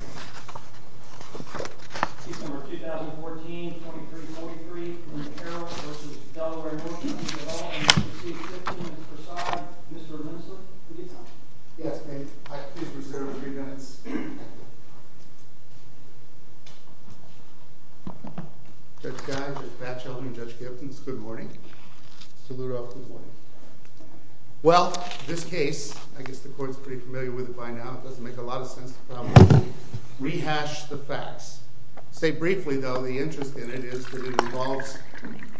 All in favor please say 15 and to the side, Mr. Linslip, you have time. Yes, may I please reserve a few minutes? Judge Guy, Judge Batchelden, Judge Kipton, good morning. Salute all. Well, this case, I guess the court's pretty familiar with it by now, it doesn't make a lot of sense to probably rehash the facts. To say briefly though, the interest in it is that it involves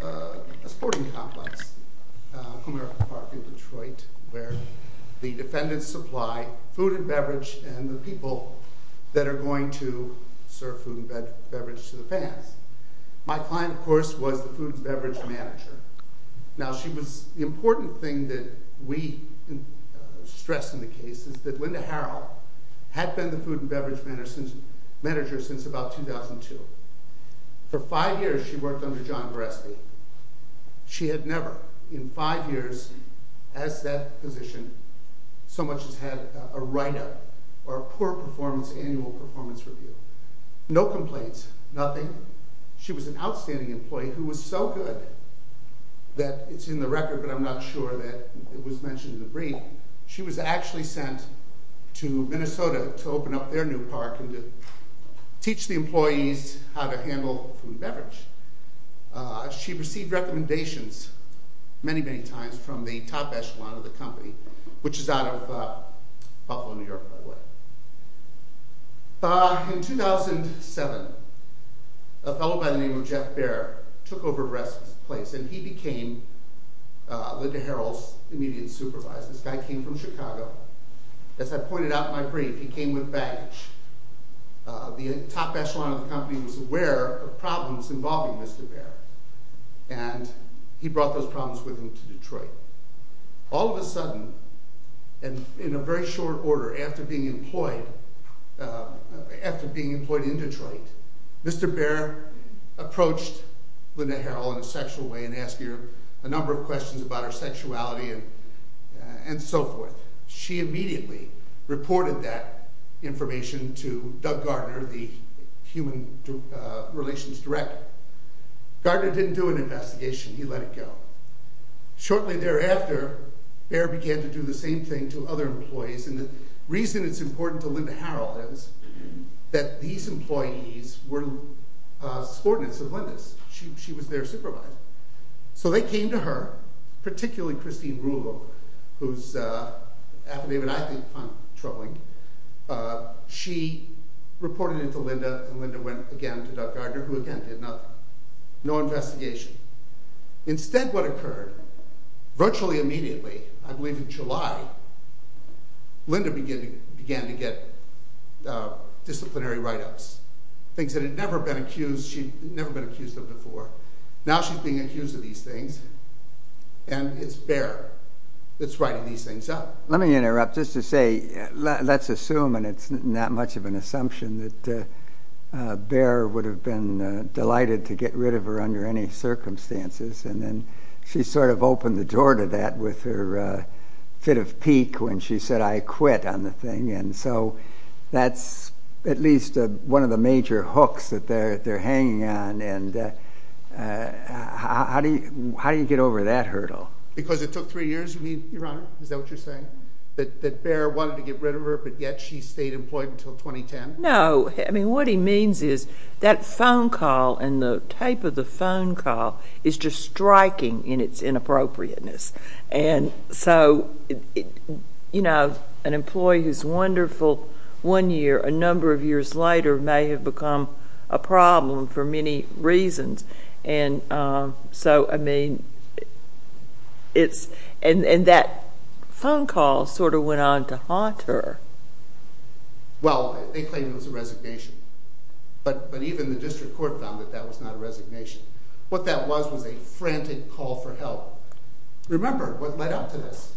a sporting complex, Comerica Park in Detroit, where the defendants supply food and beverage and the people that are going to serve food and beverage to the fans. My client, of course, was the food and beverage manager. Now, the important thing that we stress in the case is that Linda Harrell had been the food and beverage manager since about 2002. For five years she worked under John Goreski. She had never in five years as that position so much as had a write-up or a poor annual performance review. No complaints, nothing. She was an outstanding employee who was so good that it's in the record but I'm not sure that it was mentioned in the brief. She was actually sent to Minnesota to open up their new park and to teach the employees how to handle food and beverage. She received recommendations many, many times from the top echelon of the company, which is out of Buffalo, New York, by the way. In 2007, a fellow by the name of Jeff Baer took over the rest of the place and he became Linda Harrell's immediate supervisor. This guy came from Chicago. As I pointed out in my brief, he came with baggage. The top echelon of the company was aware of problems involving Mr. Baer and he brought those problems with him to Detroit. All of a sudden and in a very short order after being employed in Detroit, Mr. Baer approached Linda Harrell in a sexual way and asked her a number of questions about her sexuality and so forth. She immediately reported that information to Doug Gardner, the human relations director. Gardner didn't do an investigation. He let it go. Shortly thereafter, Baer began to do the same thing to other employees and the reason it's important to Linda Harrell is that these employees were subordinates of Linda's. She was their supervisor. So they came to her, particularly Christine Rulo, whose affidavit I think I'm troubling. She reported it to Linda and Linda went again to Doug Gardner, who again did nothing. No investigation. Instead what occurred, virtually immediately, I believe in July, Linda began to get disciplinary write-ups. Things that had never been accused of before. Now she's being accused of these things and it's Baer that's writing these things up. Let me interrupt just to say, let's assume, and it's not much of an assumption, that Baer would have been delighted to get rid of her under any circumstances. She sort of opened the door to that with her fit of pique when she said, I quit on the thing. That's at least one of the major hooks that they're hanging on. Because it took three years, Your Honor? Is that what you're saying? That Baer wanted to get rid of her, but yet she stayed employed until 2010? No. I mean, what he means is that phone call and the type of the phone call is just striking in its inappropriateness. And so, you know, an employee who's wonderful one year, a number of years later may have become a problem for many reasons. And so, I mean, and that phone call sort of went on to haunt her. Well, they claimed it was a resignation, but even the district court found that that was not a resignation. What that was was a frantic call for help. Remember what led up to this.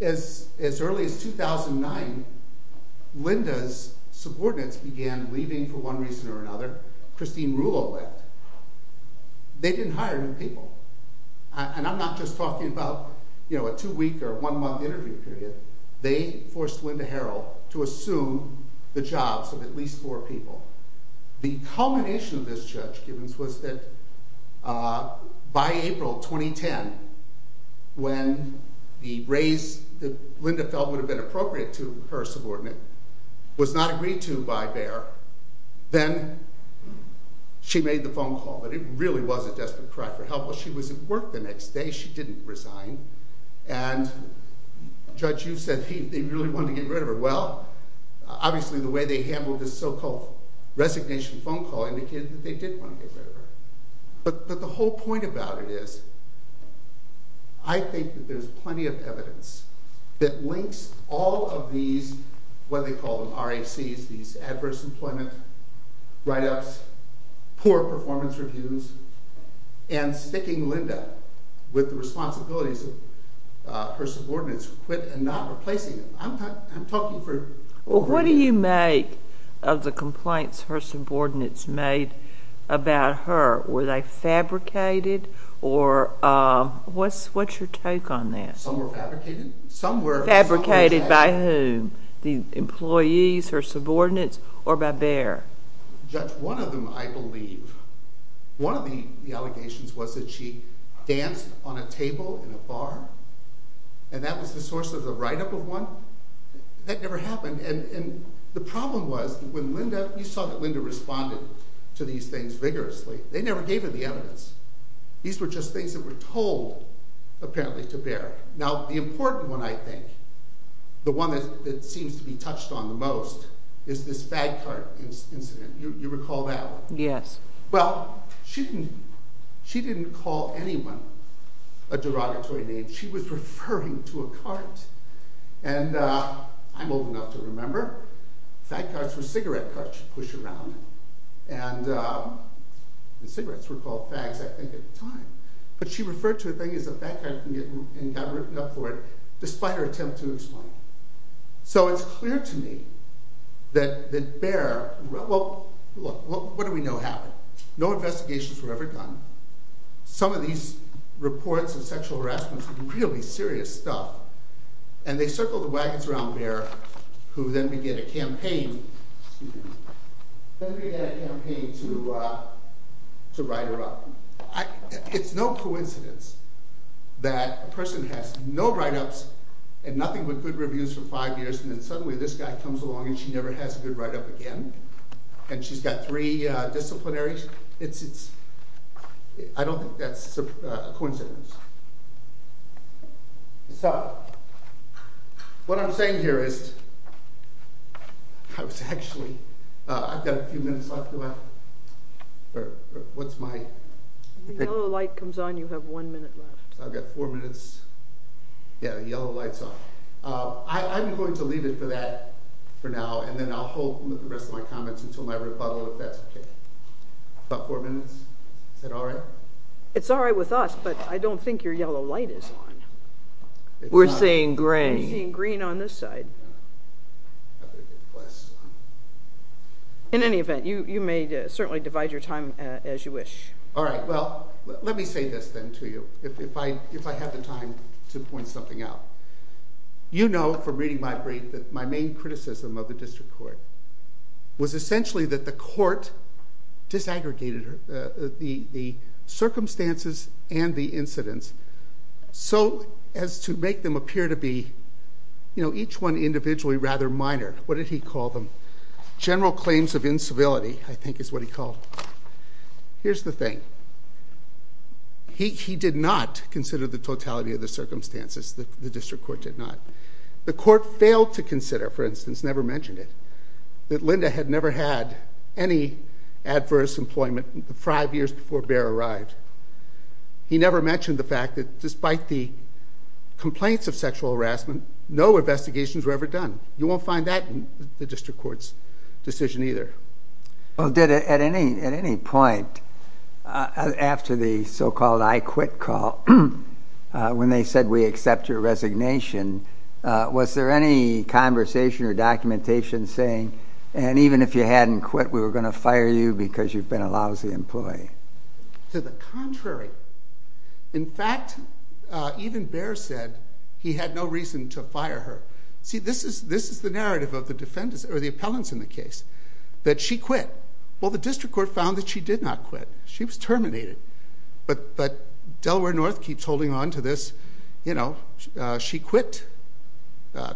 As early as 2009, Linda's subordinates began leaving for one reason or another. Christine Rulo left. They didn't hire new people. And I'm not just talking about, you know, a two-week or one-month interview period. They forced Linda Harrell to assume the jobs of at least four people. The culmination of this, Judge Gibbons, was that by April 2010, when the raise that Linda felt would have been appropriate to her subordinate was not agreed to by Baer, then she made the phone call. But it really was a desperate cry for help. Well, she was at work the next day. She didn't resign. And Judge, you said they really wanted to get rid of her. Well, obviously the way they handled this so-called resignation phone call indicated that they did want to get rid of her. But the whole point about it is, I think that there's plenty of evidence that links all of these, what they call them, RACs, these adverse employment write-ups, poor performance reviews, and sticking Linda with the responsibilities of her subordinates, quit and not replacing them. Well, what do you make of the complaints her subordinates made about her? Were they fabricated, or what's your take on that? Some were fabricated. Fabricated by whom? The employees, her subordinates, or by Baer? Judge, one of them, I believe, one of the allegations was that she danced on a table in a bar, and that was the source of the write-up of one. That never happened. And the problem was, when Linda, you saw that Linda responded to these things vigorously. They never gave her the evidence. These were just things that were told, apparently, to Baer. Now, the important one, I think, the one that seems to be touched on the most, is this fag cart incident. You recall that one? Yes. Well, she didn't call anyone a derogatory name. She was referring to a cart. And I'm old enough to remember. Fag carts were cigarette carts you'd push around in. And cigarettes were called fags, I think, at the time. But she referred to a thing as a fag cart and got written up for it, despite her attempt to explain it. So it's clear to me that Baer, well, what do we know happened? No investigations were ever done. Some of these reports of sexual harassment were really serious stuff. And they circled the wagons around Baer, who then began a campaign to write her up. It's no coincidence that a person has no write-ups and nothing but good reviews for five years, and then suddenly this guy comes along and she never has a good write-up again. And she's got three disciplinaries. I don't think that's a coincidence. So what I'm saying here is I was actually – I've got a few minutes left. What's my – When the yellow light comes on, you have one minute left. I've got four minutes. Yeah, the yellow light's on. I'm going to leave it for that for now, and then I'll hold the rest of my comments until my rebuttal, if that's okay. About four minutes? Is that all right? It's all right with us, but I don't think your yellow light is on. We're seeing green. We're seeing green on this side. In any event, you may certainly divide your time as you wish. All right, well, let me say this then to you, if I have the time to point something out. You know from reading my brief that my main criticism of the district court was essentially that the court disaggregated the circumstances and the incidents so as to make them appear to be, you know, each one individually rather minor. What did he call them? General claims of incivility, I think is what he called them. Here's the thing. He did not consider the totality of the circumstances. The district court did not. The court failed to consider, for instance, never mentioned it, that Linda had never had any adverse employment five years before Bear arrived. He never mentioned the fact that despite the complaints of sexual harassment, no investigations were ever done. You won't find that in the district court's decision either. Well, did at any point after the so-called I quit call, when they said we accept your resignation, was there any conversation or documentation saying, and even if you hadn't quit, we were going to fire you because you've been a lousy employee? To the contrary. In fact, even Bear said he had no reason to fire her. See, this is the narrative of the defendants or the appellants in the case, that she quit. Well, the district court found that she did not quit. She was terminated. But Delaware North keeps holding on to this, you know, she quit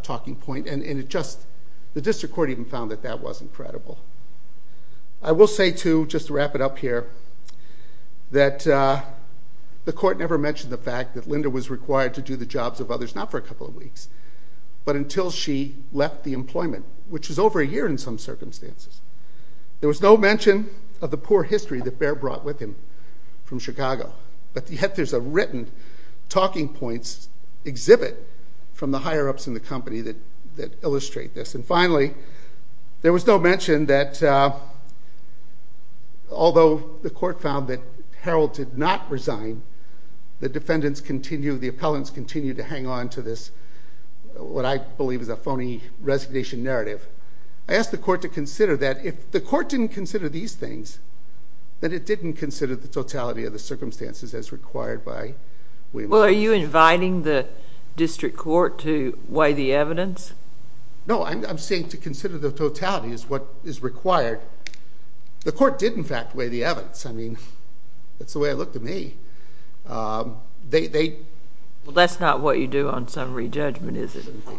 talking point, and the district court even found that that wasn't credible. I will say, too, just to wrap it up here, that the court never mentioned the fact that Linda was required to do the jobs of others, not for a couple of weeks, but until she left the employment, which was over a year in some circumstances. There was no mention of the poor history that Bear brought with him from Chicago. But there's a written talking points exhibit from the higher-ups in the company that illustrate this. And finally, there was no mention that although the court found that Harold did not resign, the defendants continue, the appellants continue to hang on to this, what I believe is a phony resignation narrative. I asked the court to consider that if the court didn't consider these things, that it didn't consider the totality of the circumstances as required by way of law. Well, are you inviting the district court to weigh the evidence? No, I'm saying to consider the totality as what is required. The court did, in fact, weigh the evidence. I mean, that's the way I look to me. Well, that's not what you do on summary judgment, is it? It shouldn't be.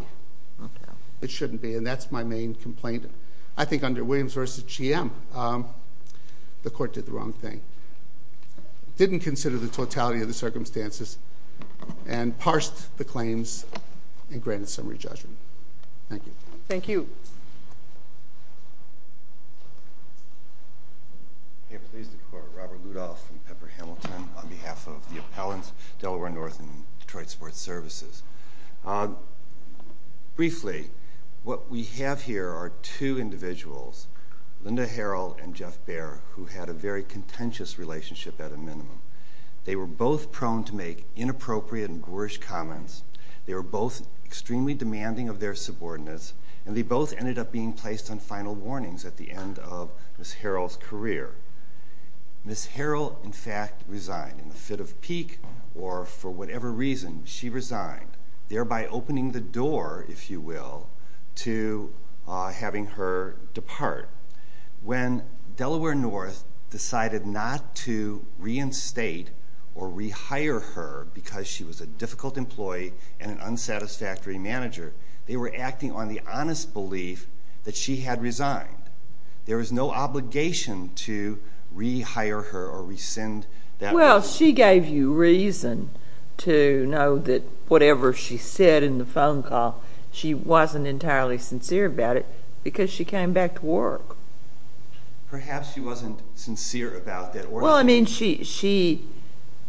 Okay. It shouldn't be, and that's my main complaint. I think under Williams v. GM, the court did the wrong thing. It didn't consider the totality of the circumstances and parsed the claims and granted summary judgment. Thank you. Thank you. Please. Robert Rudolph from Pepper Hamilton on behalf of the appellants, Delaware North and Detroit Sports Services. Briefly, what we have here are two individuals, Linda Harrell and Jeff Baer, who had a very contentious relationship at a minimum. They were both prone to make inappropriate and boorish comments. They were both extremely demanding of their subordinates, and they both ended up being placed on final warnings at the end of Ms. Harrell's career. Ms. Harrell, in fact, resigned. In the fit of pique or for whatever reason, she resigned, thereby opening the door, if you will, to having her depart. When Delaware North decided not to reinstate or rehire her because she was a difficult employee and an unsatisfactory manager, they were acting on the honest belief that she had resigned. There was no obligation to rehire her or rescind that role. Well, she gave you reason to know that whatever she said in the phone call, she wasn't entirely sincere about it because she came back to work. Perhaps she wasn't sincere about that orientation. Well, I mean, she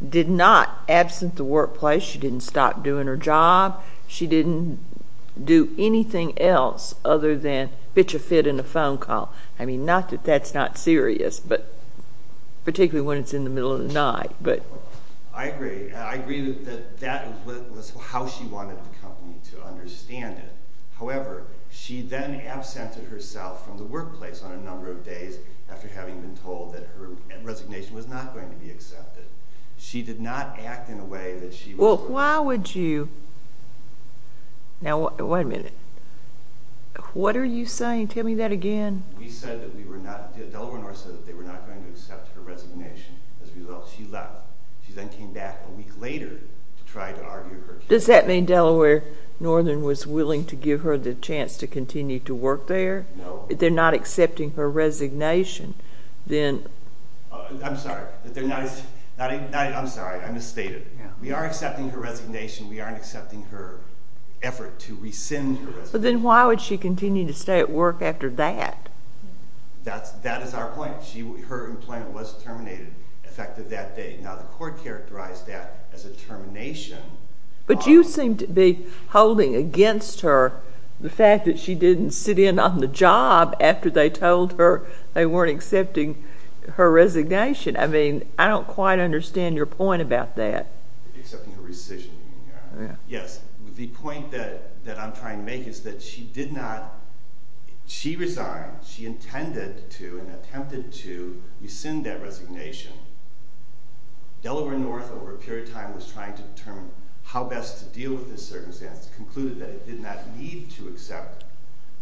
did not. Absent the workplace, she didn't stop doing her job. She didn't do anything else other than pitch a fit in a phone call. I mean, not that that's not serious, but particularly when it's in the middle of the night. I agree. I agree that that was how she wanted the company to understand it. However, she then absented herself from the workplace on a number of days She did not act in a way that she was— Well, why would you—now, wait a minute. What are you saying? Tell me that again. We said that we were not—Delaware North said that they were not going to accept her resignation. As a result, she left. She then came back a week later to try to argue her case. Does that mean Delaware Northern was willing to give her the chance to continue to work there? No. If they're not accepting her resignation, then— I'm sorry. I misstated. We are accepting her resignation. We aren't accepting her effort to rescind her resignation. Then why would she continue to stay at work after that? That is our point. Her employment was terminated effective that day. Now, the court characterized that as a termination. But you seem to be holding against her the fact that she didn't sit in on the job after they told her they weren't accepting her resignation. I mean, I don't quite understand your point about that. Accepting her resignation. Yes. The point that I'm trying to make is that she did not— She resigned. She intended to and attempted to rescind that resignation. Delaware North, over a period of time, was trying to determine how best to deal with this circumstance. Concluded that it did not need to accept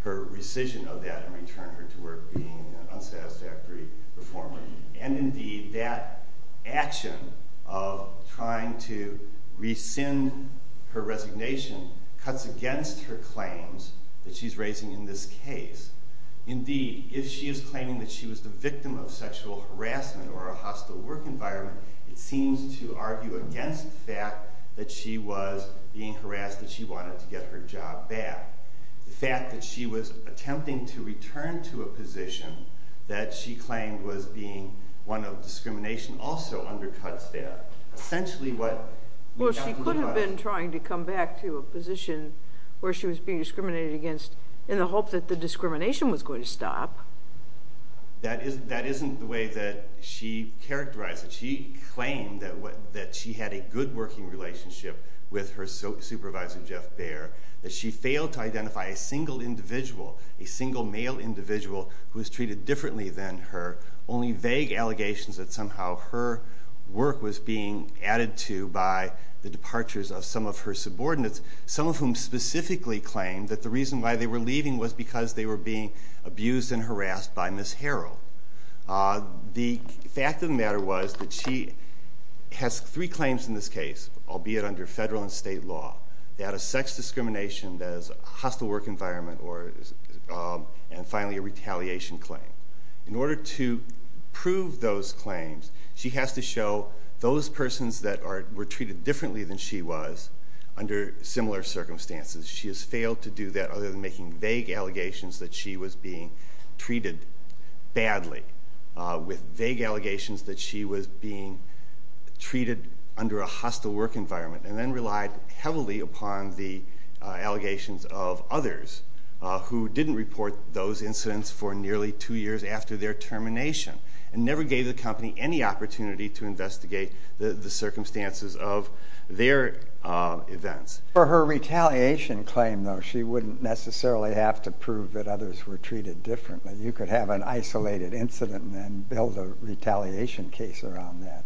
her rescission of that and return her to work being an unsatisfactory reformer. And indeed, that action of trying to rescind her resignation cuts against her claims that she's raising in this case. Indeed, if she is claiming that she was the victim of sexual harassment or a hostile work environment, it seems to argue against the fact that she was being harassed, that she wanted to get her job back. The fact that she was attempting to return to a position that she claimed was being one of discrimination also undercuts that. Essentially, what— Well, she could have been trying to come back to a position where she was being discriminated against in the hope that the discrimination was going to stop. That isn't the way that she characterized it. She claimed that she had a good working relationship with her supervisor, Jeff Baer, that she failed to identify a single individual, a single male individual, who was treated differently than her, only vague allegations that somehow her work was being added to by the departures of some of her subordinates, some of whom specifically claimed that the reason why they were leaving was because they were being abused and harassed by Ms. Harrell. The fact of the matter was that she has three claims in this case, albeit under federal and state law. They had a sex discrimination, a hostile work environment, and finally a retaliation claim. In order to prove those claims, she has to show those persons that were treated differently than she was under similar circumstances. She has failed to do that other than making vague allegations that she was being treated badly, with vague allegations that she was being treated under a hostile work environment, and then relied heavily upon the allegations of others who didn't report those incidents for nearly two years after their termination and never gave the company any opportunity to investigate the circumstances of their events. For her retaliation claim, though, she wouldn't necessarily have to prove that others were treated differently. You could have an isolated incident and then build a retaliation case around that.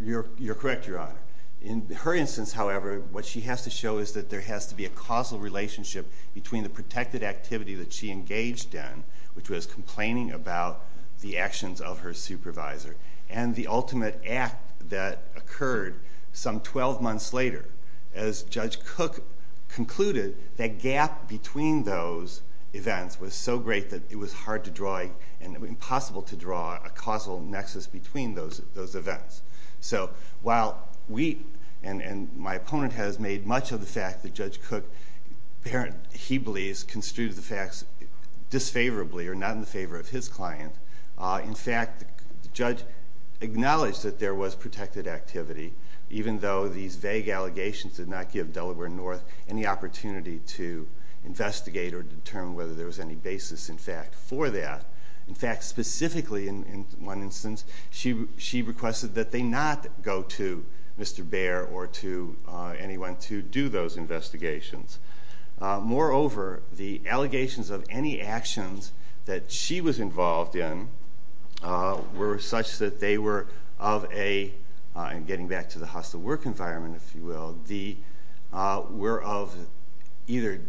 You're correct, Your Honor. In her instance, however, what she has to show is that there has to be a causal relationship between the protected activity that she engaged in, which was complaining about the actions of her supervisor, and the ultimate act that occurred some 12 months later as Judge Cook concluded that gap between those events was so great that it was hard to draw and impossible to draw a causal nexus between those events. So while we and my opponent has made much of the fact that Judge Cook apparently, he believes, construed the facts disfavorably or not in favor of his client, in fact, the judge acknowledged that there was protected activity, even though these vague allegations did not give Delaware North any opportunity to investigate or determine whether there was any basis, in fact, for that. In fact, specifically in one instance, she requested that they not go to Mr. Bair or to anyone to do those investigations. Moreover, the allegations of any actions that she was involved in were such that they were of a, and getting back to the hostile work environment, if you will, were of either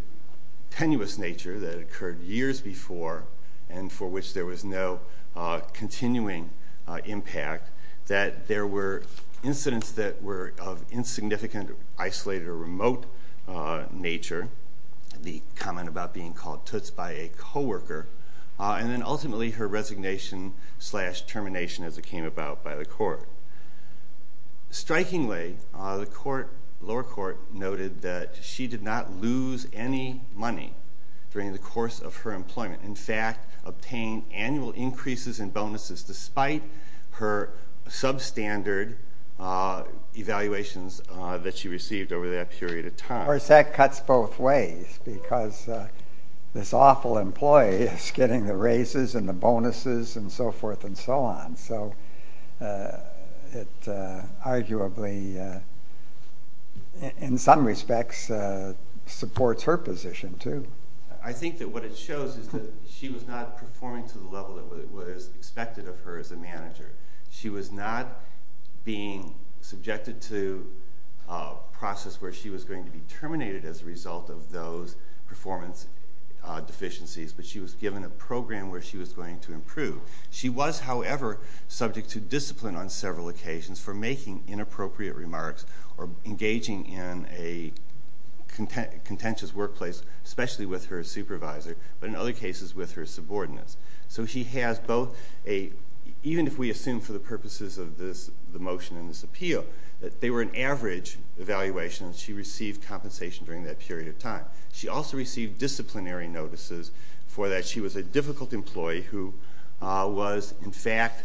tenuous nature that occurred years before and for which there was no continuing impact, that there were incidents that were of insignificant, isolated, or remote nature, the comment about being called toots by a coworker, and then ultimately her resignation slash termination, as it came about by the court. Strikingly, the lower court noted that she did not lose any money during the course of her employment. In fact, obtained annual increases in bonuses despite her substandard evaluations that she received over that period of time. Of course, that cuts both ways because this awful employee is getting the raises and the bonuses and so forth and so on. So it arguably, in some respects, supports her position too. I think that what it shows is that she was not performing to the level that was expected of her as a manager. She was not being subjected to a process where she was going to be terminated as a result of those performance deficiencies, but she was given a program where she was going to improve. She was, however, subject to discipline on several occasions for making inappropriate remarks or engaging in a contentious workplace, especially with her supervisor, but in other cases with her subordinates. So she has both a, even if we assume for the purposes of the motion and this appeal, that they were an average evaluation, and she received compensation during that period of time. She also received disciplinary notices for that. She was a difficult employee who was, in fact,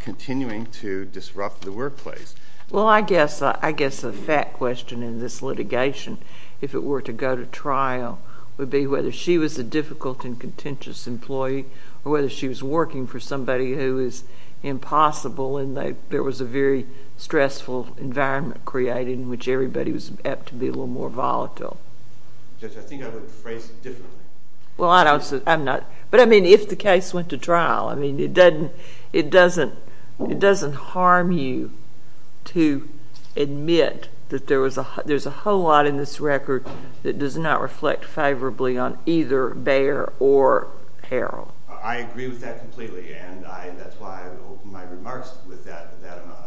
continuing to disrupt the workplace. Well, I guess the fat question in this litigation, if it were to go to trial, would be whether she was a difficult and contentious employee or whether she was working for somebody who is impossible and there was a very stressful environment created in which everybody was apt to be a little more volatile. Judge, I think I would phrase it differently. Well, I'm not. But, I mean, if the case went to trial, I mean, it doesn't harm you to admit that there's a whole lot in this record that does not reflect favorably on either Bayer or Harrell. I agree with that completely, and that's why I would open my remarks with that.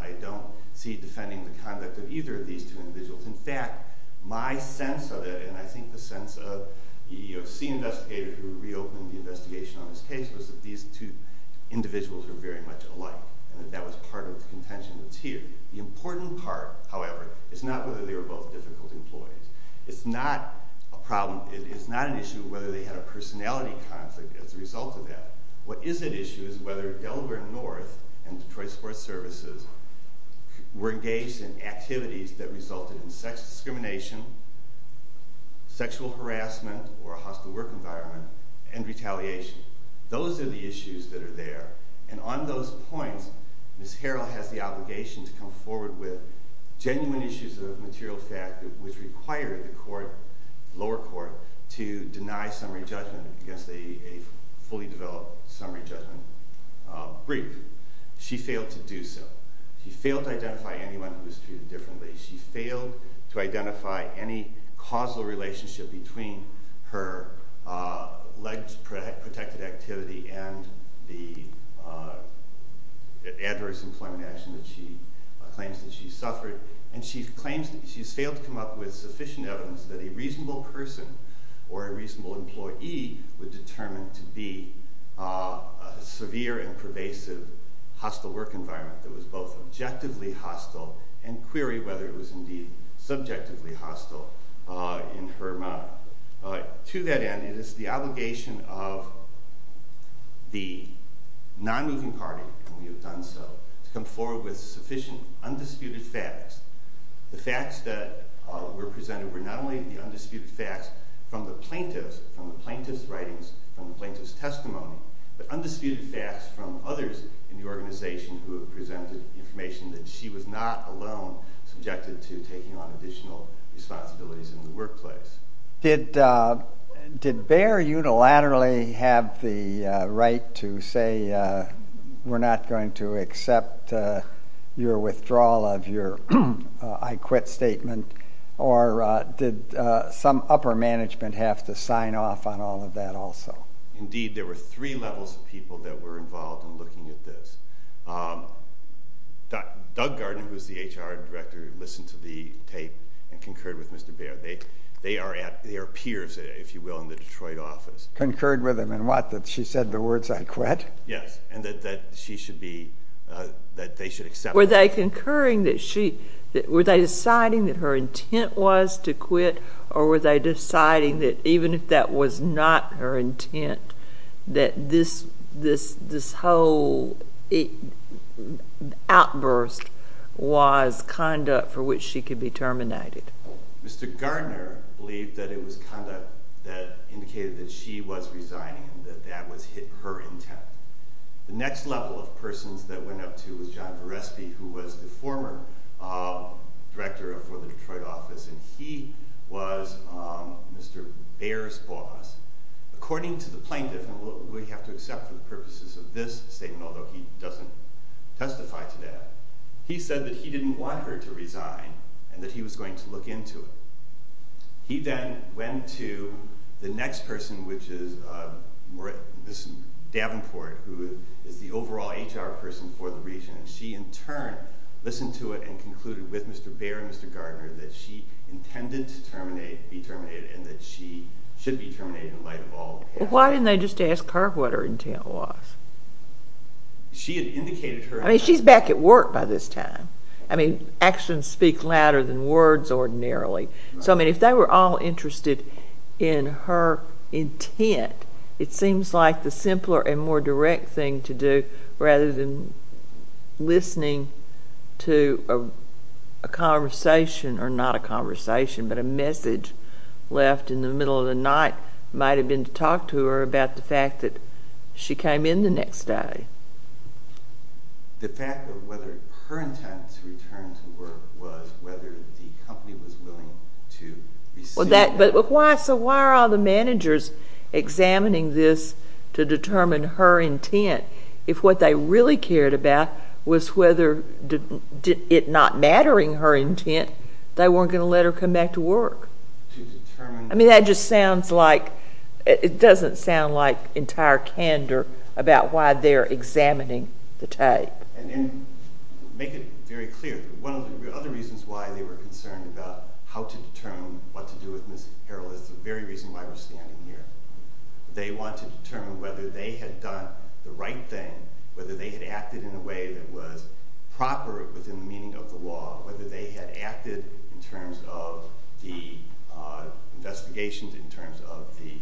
I don't see defending the conduct of either of these two individuals. In fact, my sense of it, and I think the sense of the EEOC investigator who reopened the investigation on this case, was that these two individuals were very much alike and that that was part of the contention that's here. The important part, however, is not whether they were both difficult employees. It's not an issue whether they had a personality conflict as a result of that. What is at issue is whether Delaware North and Detroit Sports Services were engaged in activities that resulted in sex discrimination, sexual harassment or a hostile work environment, and retaliation. Those are the issues that are there. And on those points, Ms. Harrell has the obligation to come forward with genuine issues of material fact which require the lower court to deny summary judgment against a fully developed summary judgment brief. She failed to do so. She failed to identify anyone who was treated differently. She failed to identify any causal relationship between her leg-protected activity and the adverse employment action that she claims that she suffered. And she's failed to come up with sufficient evidence that a reasonable person or a reasonable employee would determine to be a severe and pervasive hostile work environment that was both objectively hostile and query whether it was indeed subjectively hostile in her mind. To that end, it is the obligation of the non-moving party, and we have done so, to come forward with sufficient, undisputed facts. The facts that were presented were not only the undisputed facts from the plaintiff's writings, from the plaintiff's testimony, but undisputed facts from others in the organization who have presented information that she was not alone subjected to taking on additional responsibilities in the workplace. Did Bayer unilaterally have the right to say, we're not going to accept your withdrawal of your I quit statement, or did some upper management have to sign off on all of that also? Indeed, there were three levels of people that were involved in looking at this. Doug Gardner, who is the HR Director, listened to the tape and concurred with Mr. Bayer. They are peers, if you will, in the Detroit office. Concurred with him in what, that she said the words I quit? Yes, and that they should accept that. Were they deciding that her intent was to quit, or were they deciding that even if that was not her intent, that this whole outburst was conduct for which she could be terminated? Mr. Gardner believed that it was conduct that indicated that she was resigning and that that was her intent. The next level of persons that went up to was John Verespy, who was the former Director for the Detroit office, and he was Mr. Bayer's boss. According to the plaintiff, and we have to accept for the purposes of this statement, although he doesn't testify to that, he said that he didn't want her to resign and that he was going to look into it. He then went to the next person, which is Ms. Davenport, who is the overall HR person for the region, and she in turn listened to it and concluded with Mr. Bayer and Mr. Gardner that she intended to be terminated and that she should be terminated in light of all the past. Why didn't they just ask her what her intent was? She had indicated her intent. I mean, she's back at work by this time. I mean, actions speak louder than words ordinarily. So, I mean, if they were all interested in her intent, it seems like the simpler and more direct thing to do rather than listening to a conversation, or not a conversation, but a message left in the middle of the night might have been to talk to her about the fact that she came in the next day. The fact of whether her intent to return to work was whether the company was willing to receive her. So why are all the managers examining this to determine her intent if what they really cared about was whether it not mattering her intent, they weren't going to let her come back to work? To determine... I mean, that just sounds like... And then make it very clear. One of the other reasons why they were concerned about how to determine what to do with Ms. Harrell is the very reason why we're standing here. They wanted to determine whether they had done the right thing, whether they had acted in a way that was proper within the meaning of the law, whether they had acted in terms of the investigations, in terms of the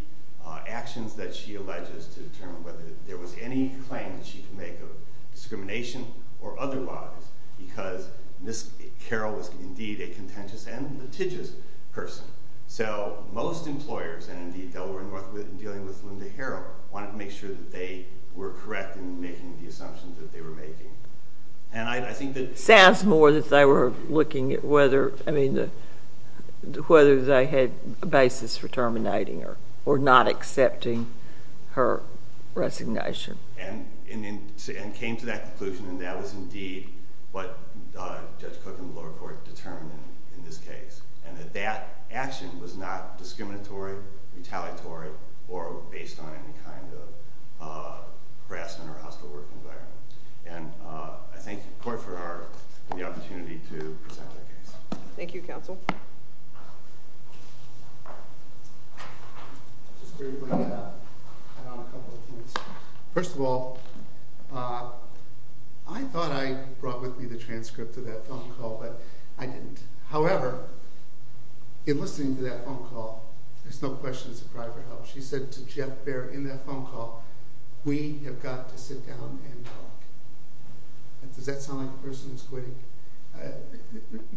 actions that she alleges to determine whether there was any claim that she could make of discrimination or otherwise because Ms. Harrell was indeed a contentious and litigious person. So most employers, and indeed Delaware North, when dealing with Linda Harrell, wanted to make sure that they were correct in making the assumptions that they were making. And I think that... Sounds more that they were looking at whether they had a basis for terminating her or not accepting her resignation. And came to that conclusion, and that was indeed what Judge Cook and the lower court determined in this case, and that that action was not discriminatory, retaliatory, or based on any kind of harassment or hostile work environment. And I thank the court for the opportunity to present our case. Thank you, counsel. Just briefly add on a couple of things. First of all, I thought I brought with me the transcript of that phone call, but I didn't. However, in listening to that phone call, there's no question it's a cry for help. She said to Jeff Baer in that phone call, we have got to sit down and talk. Does that sound like a person who's quitting?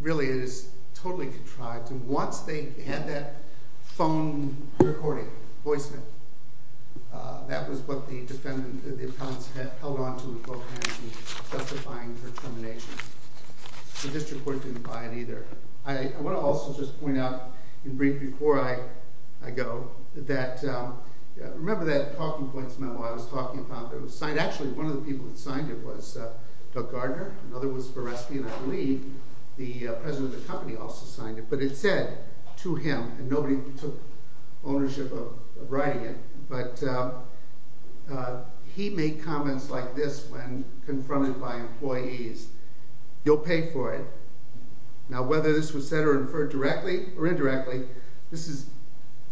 Really, it is totally contrived. And once they had that phone recording, voicemail, that was what the defendants held onto with both hands in testifying for termination. The district court didn't buy it either. I want to also just point out, in brief, before I go, that remember that talking points memo I was talking about that was signed? Actually, one of the people that signed it was Doug Gardner. Another was Veresky, and I believe the president of the company also signed it. But it said to him, and nobody took ownership of writing it, but he made comments like this when confronted by employees, you'll pay for it. Now, whether this was said or inferred directly or indirectly, this is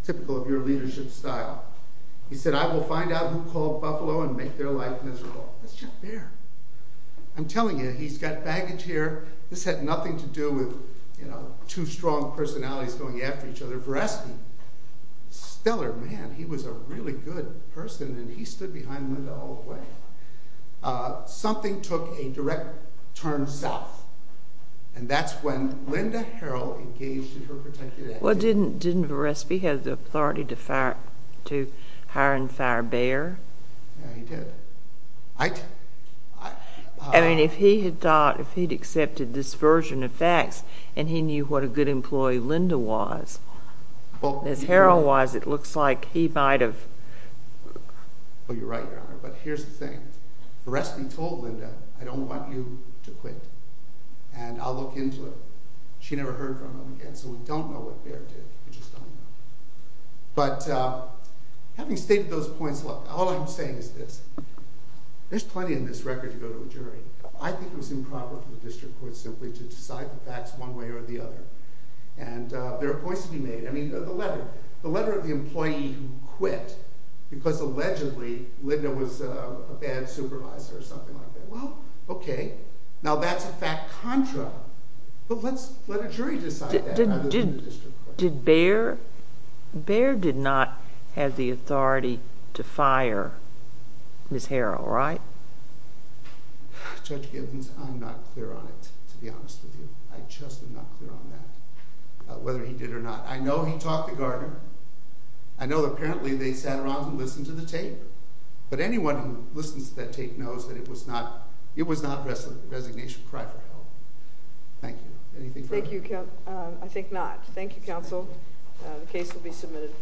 typical of your leadership style. He said, I will find out who called Buffalo and make their life miserable. That's Jeff Baer. I'm telling you, he's got baggage here. This had nothing to do with two strong personalities going after each other. Veresky, stellar man. He was a really good person, and he stood behind Linda all the way. Something took a direct turn south, and that's when Linda Harrell engaged in her particular activity. Well, didn't Veresky have the authority to hire and fire Baer? Yeah, he did. I mean, if he had accepted this version of facts and he knew what a good employee Linda was, as Harrell was, it looks like he might have. Well, you're right, Your Honor, but here's the thing. Veresky told Linda, I don't want you to quit, and I'll look into it. She never heard from him again, so we don't know what Baer did. We just don't know. But having stated those points, look, all I'm saying is this. There's plenty in this record to go to a jury. I think it was improper for the district court simply to decide the facts one way or the other, and there are points to be made. I mean, the letter of the employee who quit because allegedly Linda was a bad supervisor or something like that. Well, okay, now that's a fact contra, but let a jury decide that rather than the district court. But Baer did not have the authority to fire Ms. Harrell, right? Judge Gibbons, I'm not clear on it, to be honest with you. I just am not clear on that, whether he did or not. I know he talked to Gardner. I know apparently they sat around and listened to the tape, but anyone who listens to that tape knows that it was not a resignation cry for help. Thank you. Anything further? Thank you. I think not. Thank you, counsel. The case will be submitted.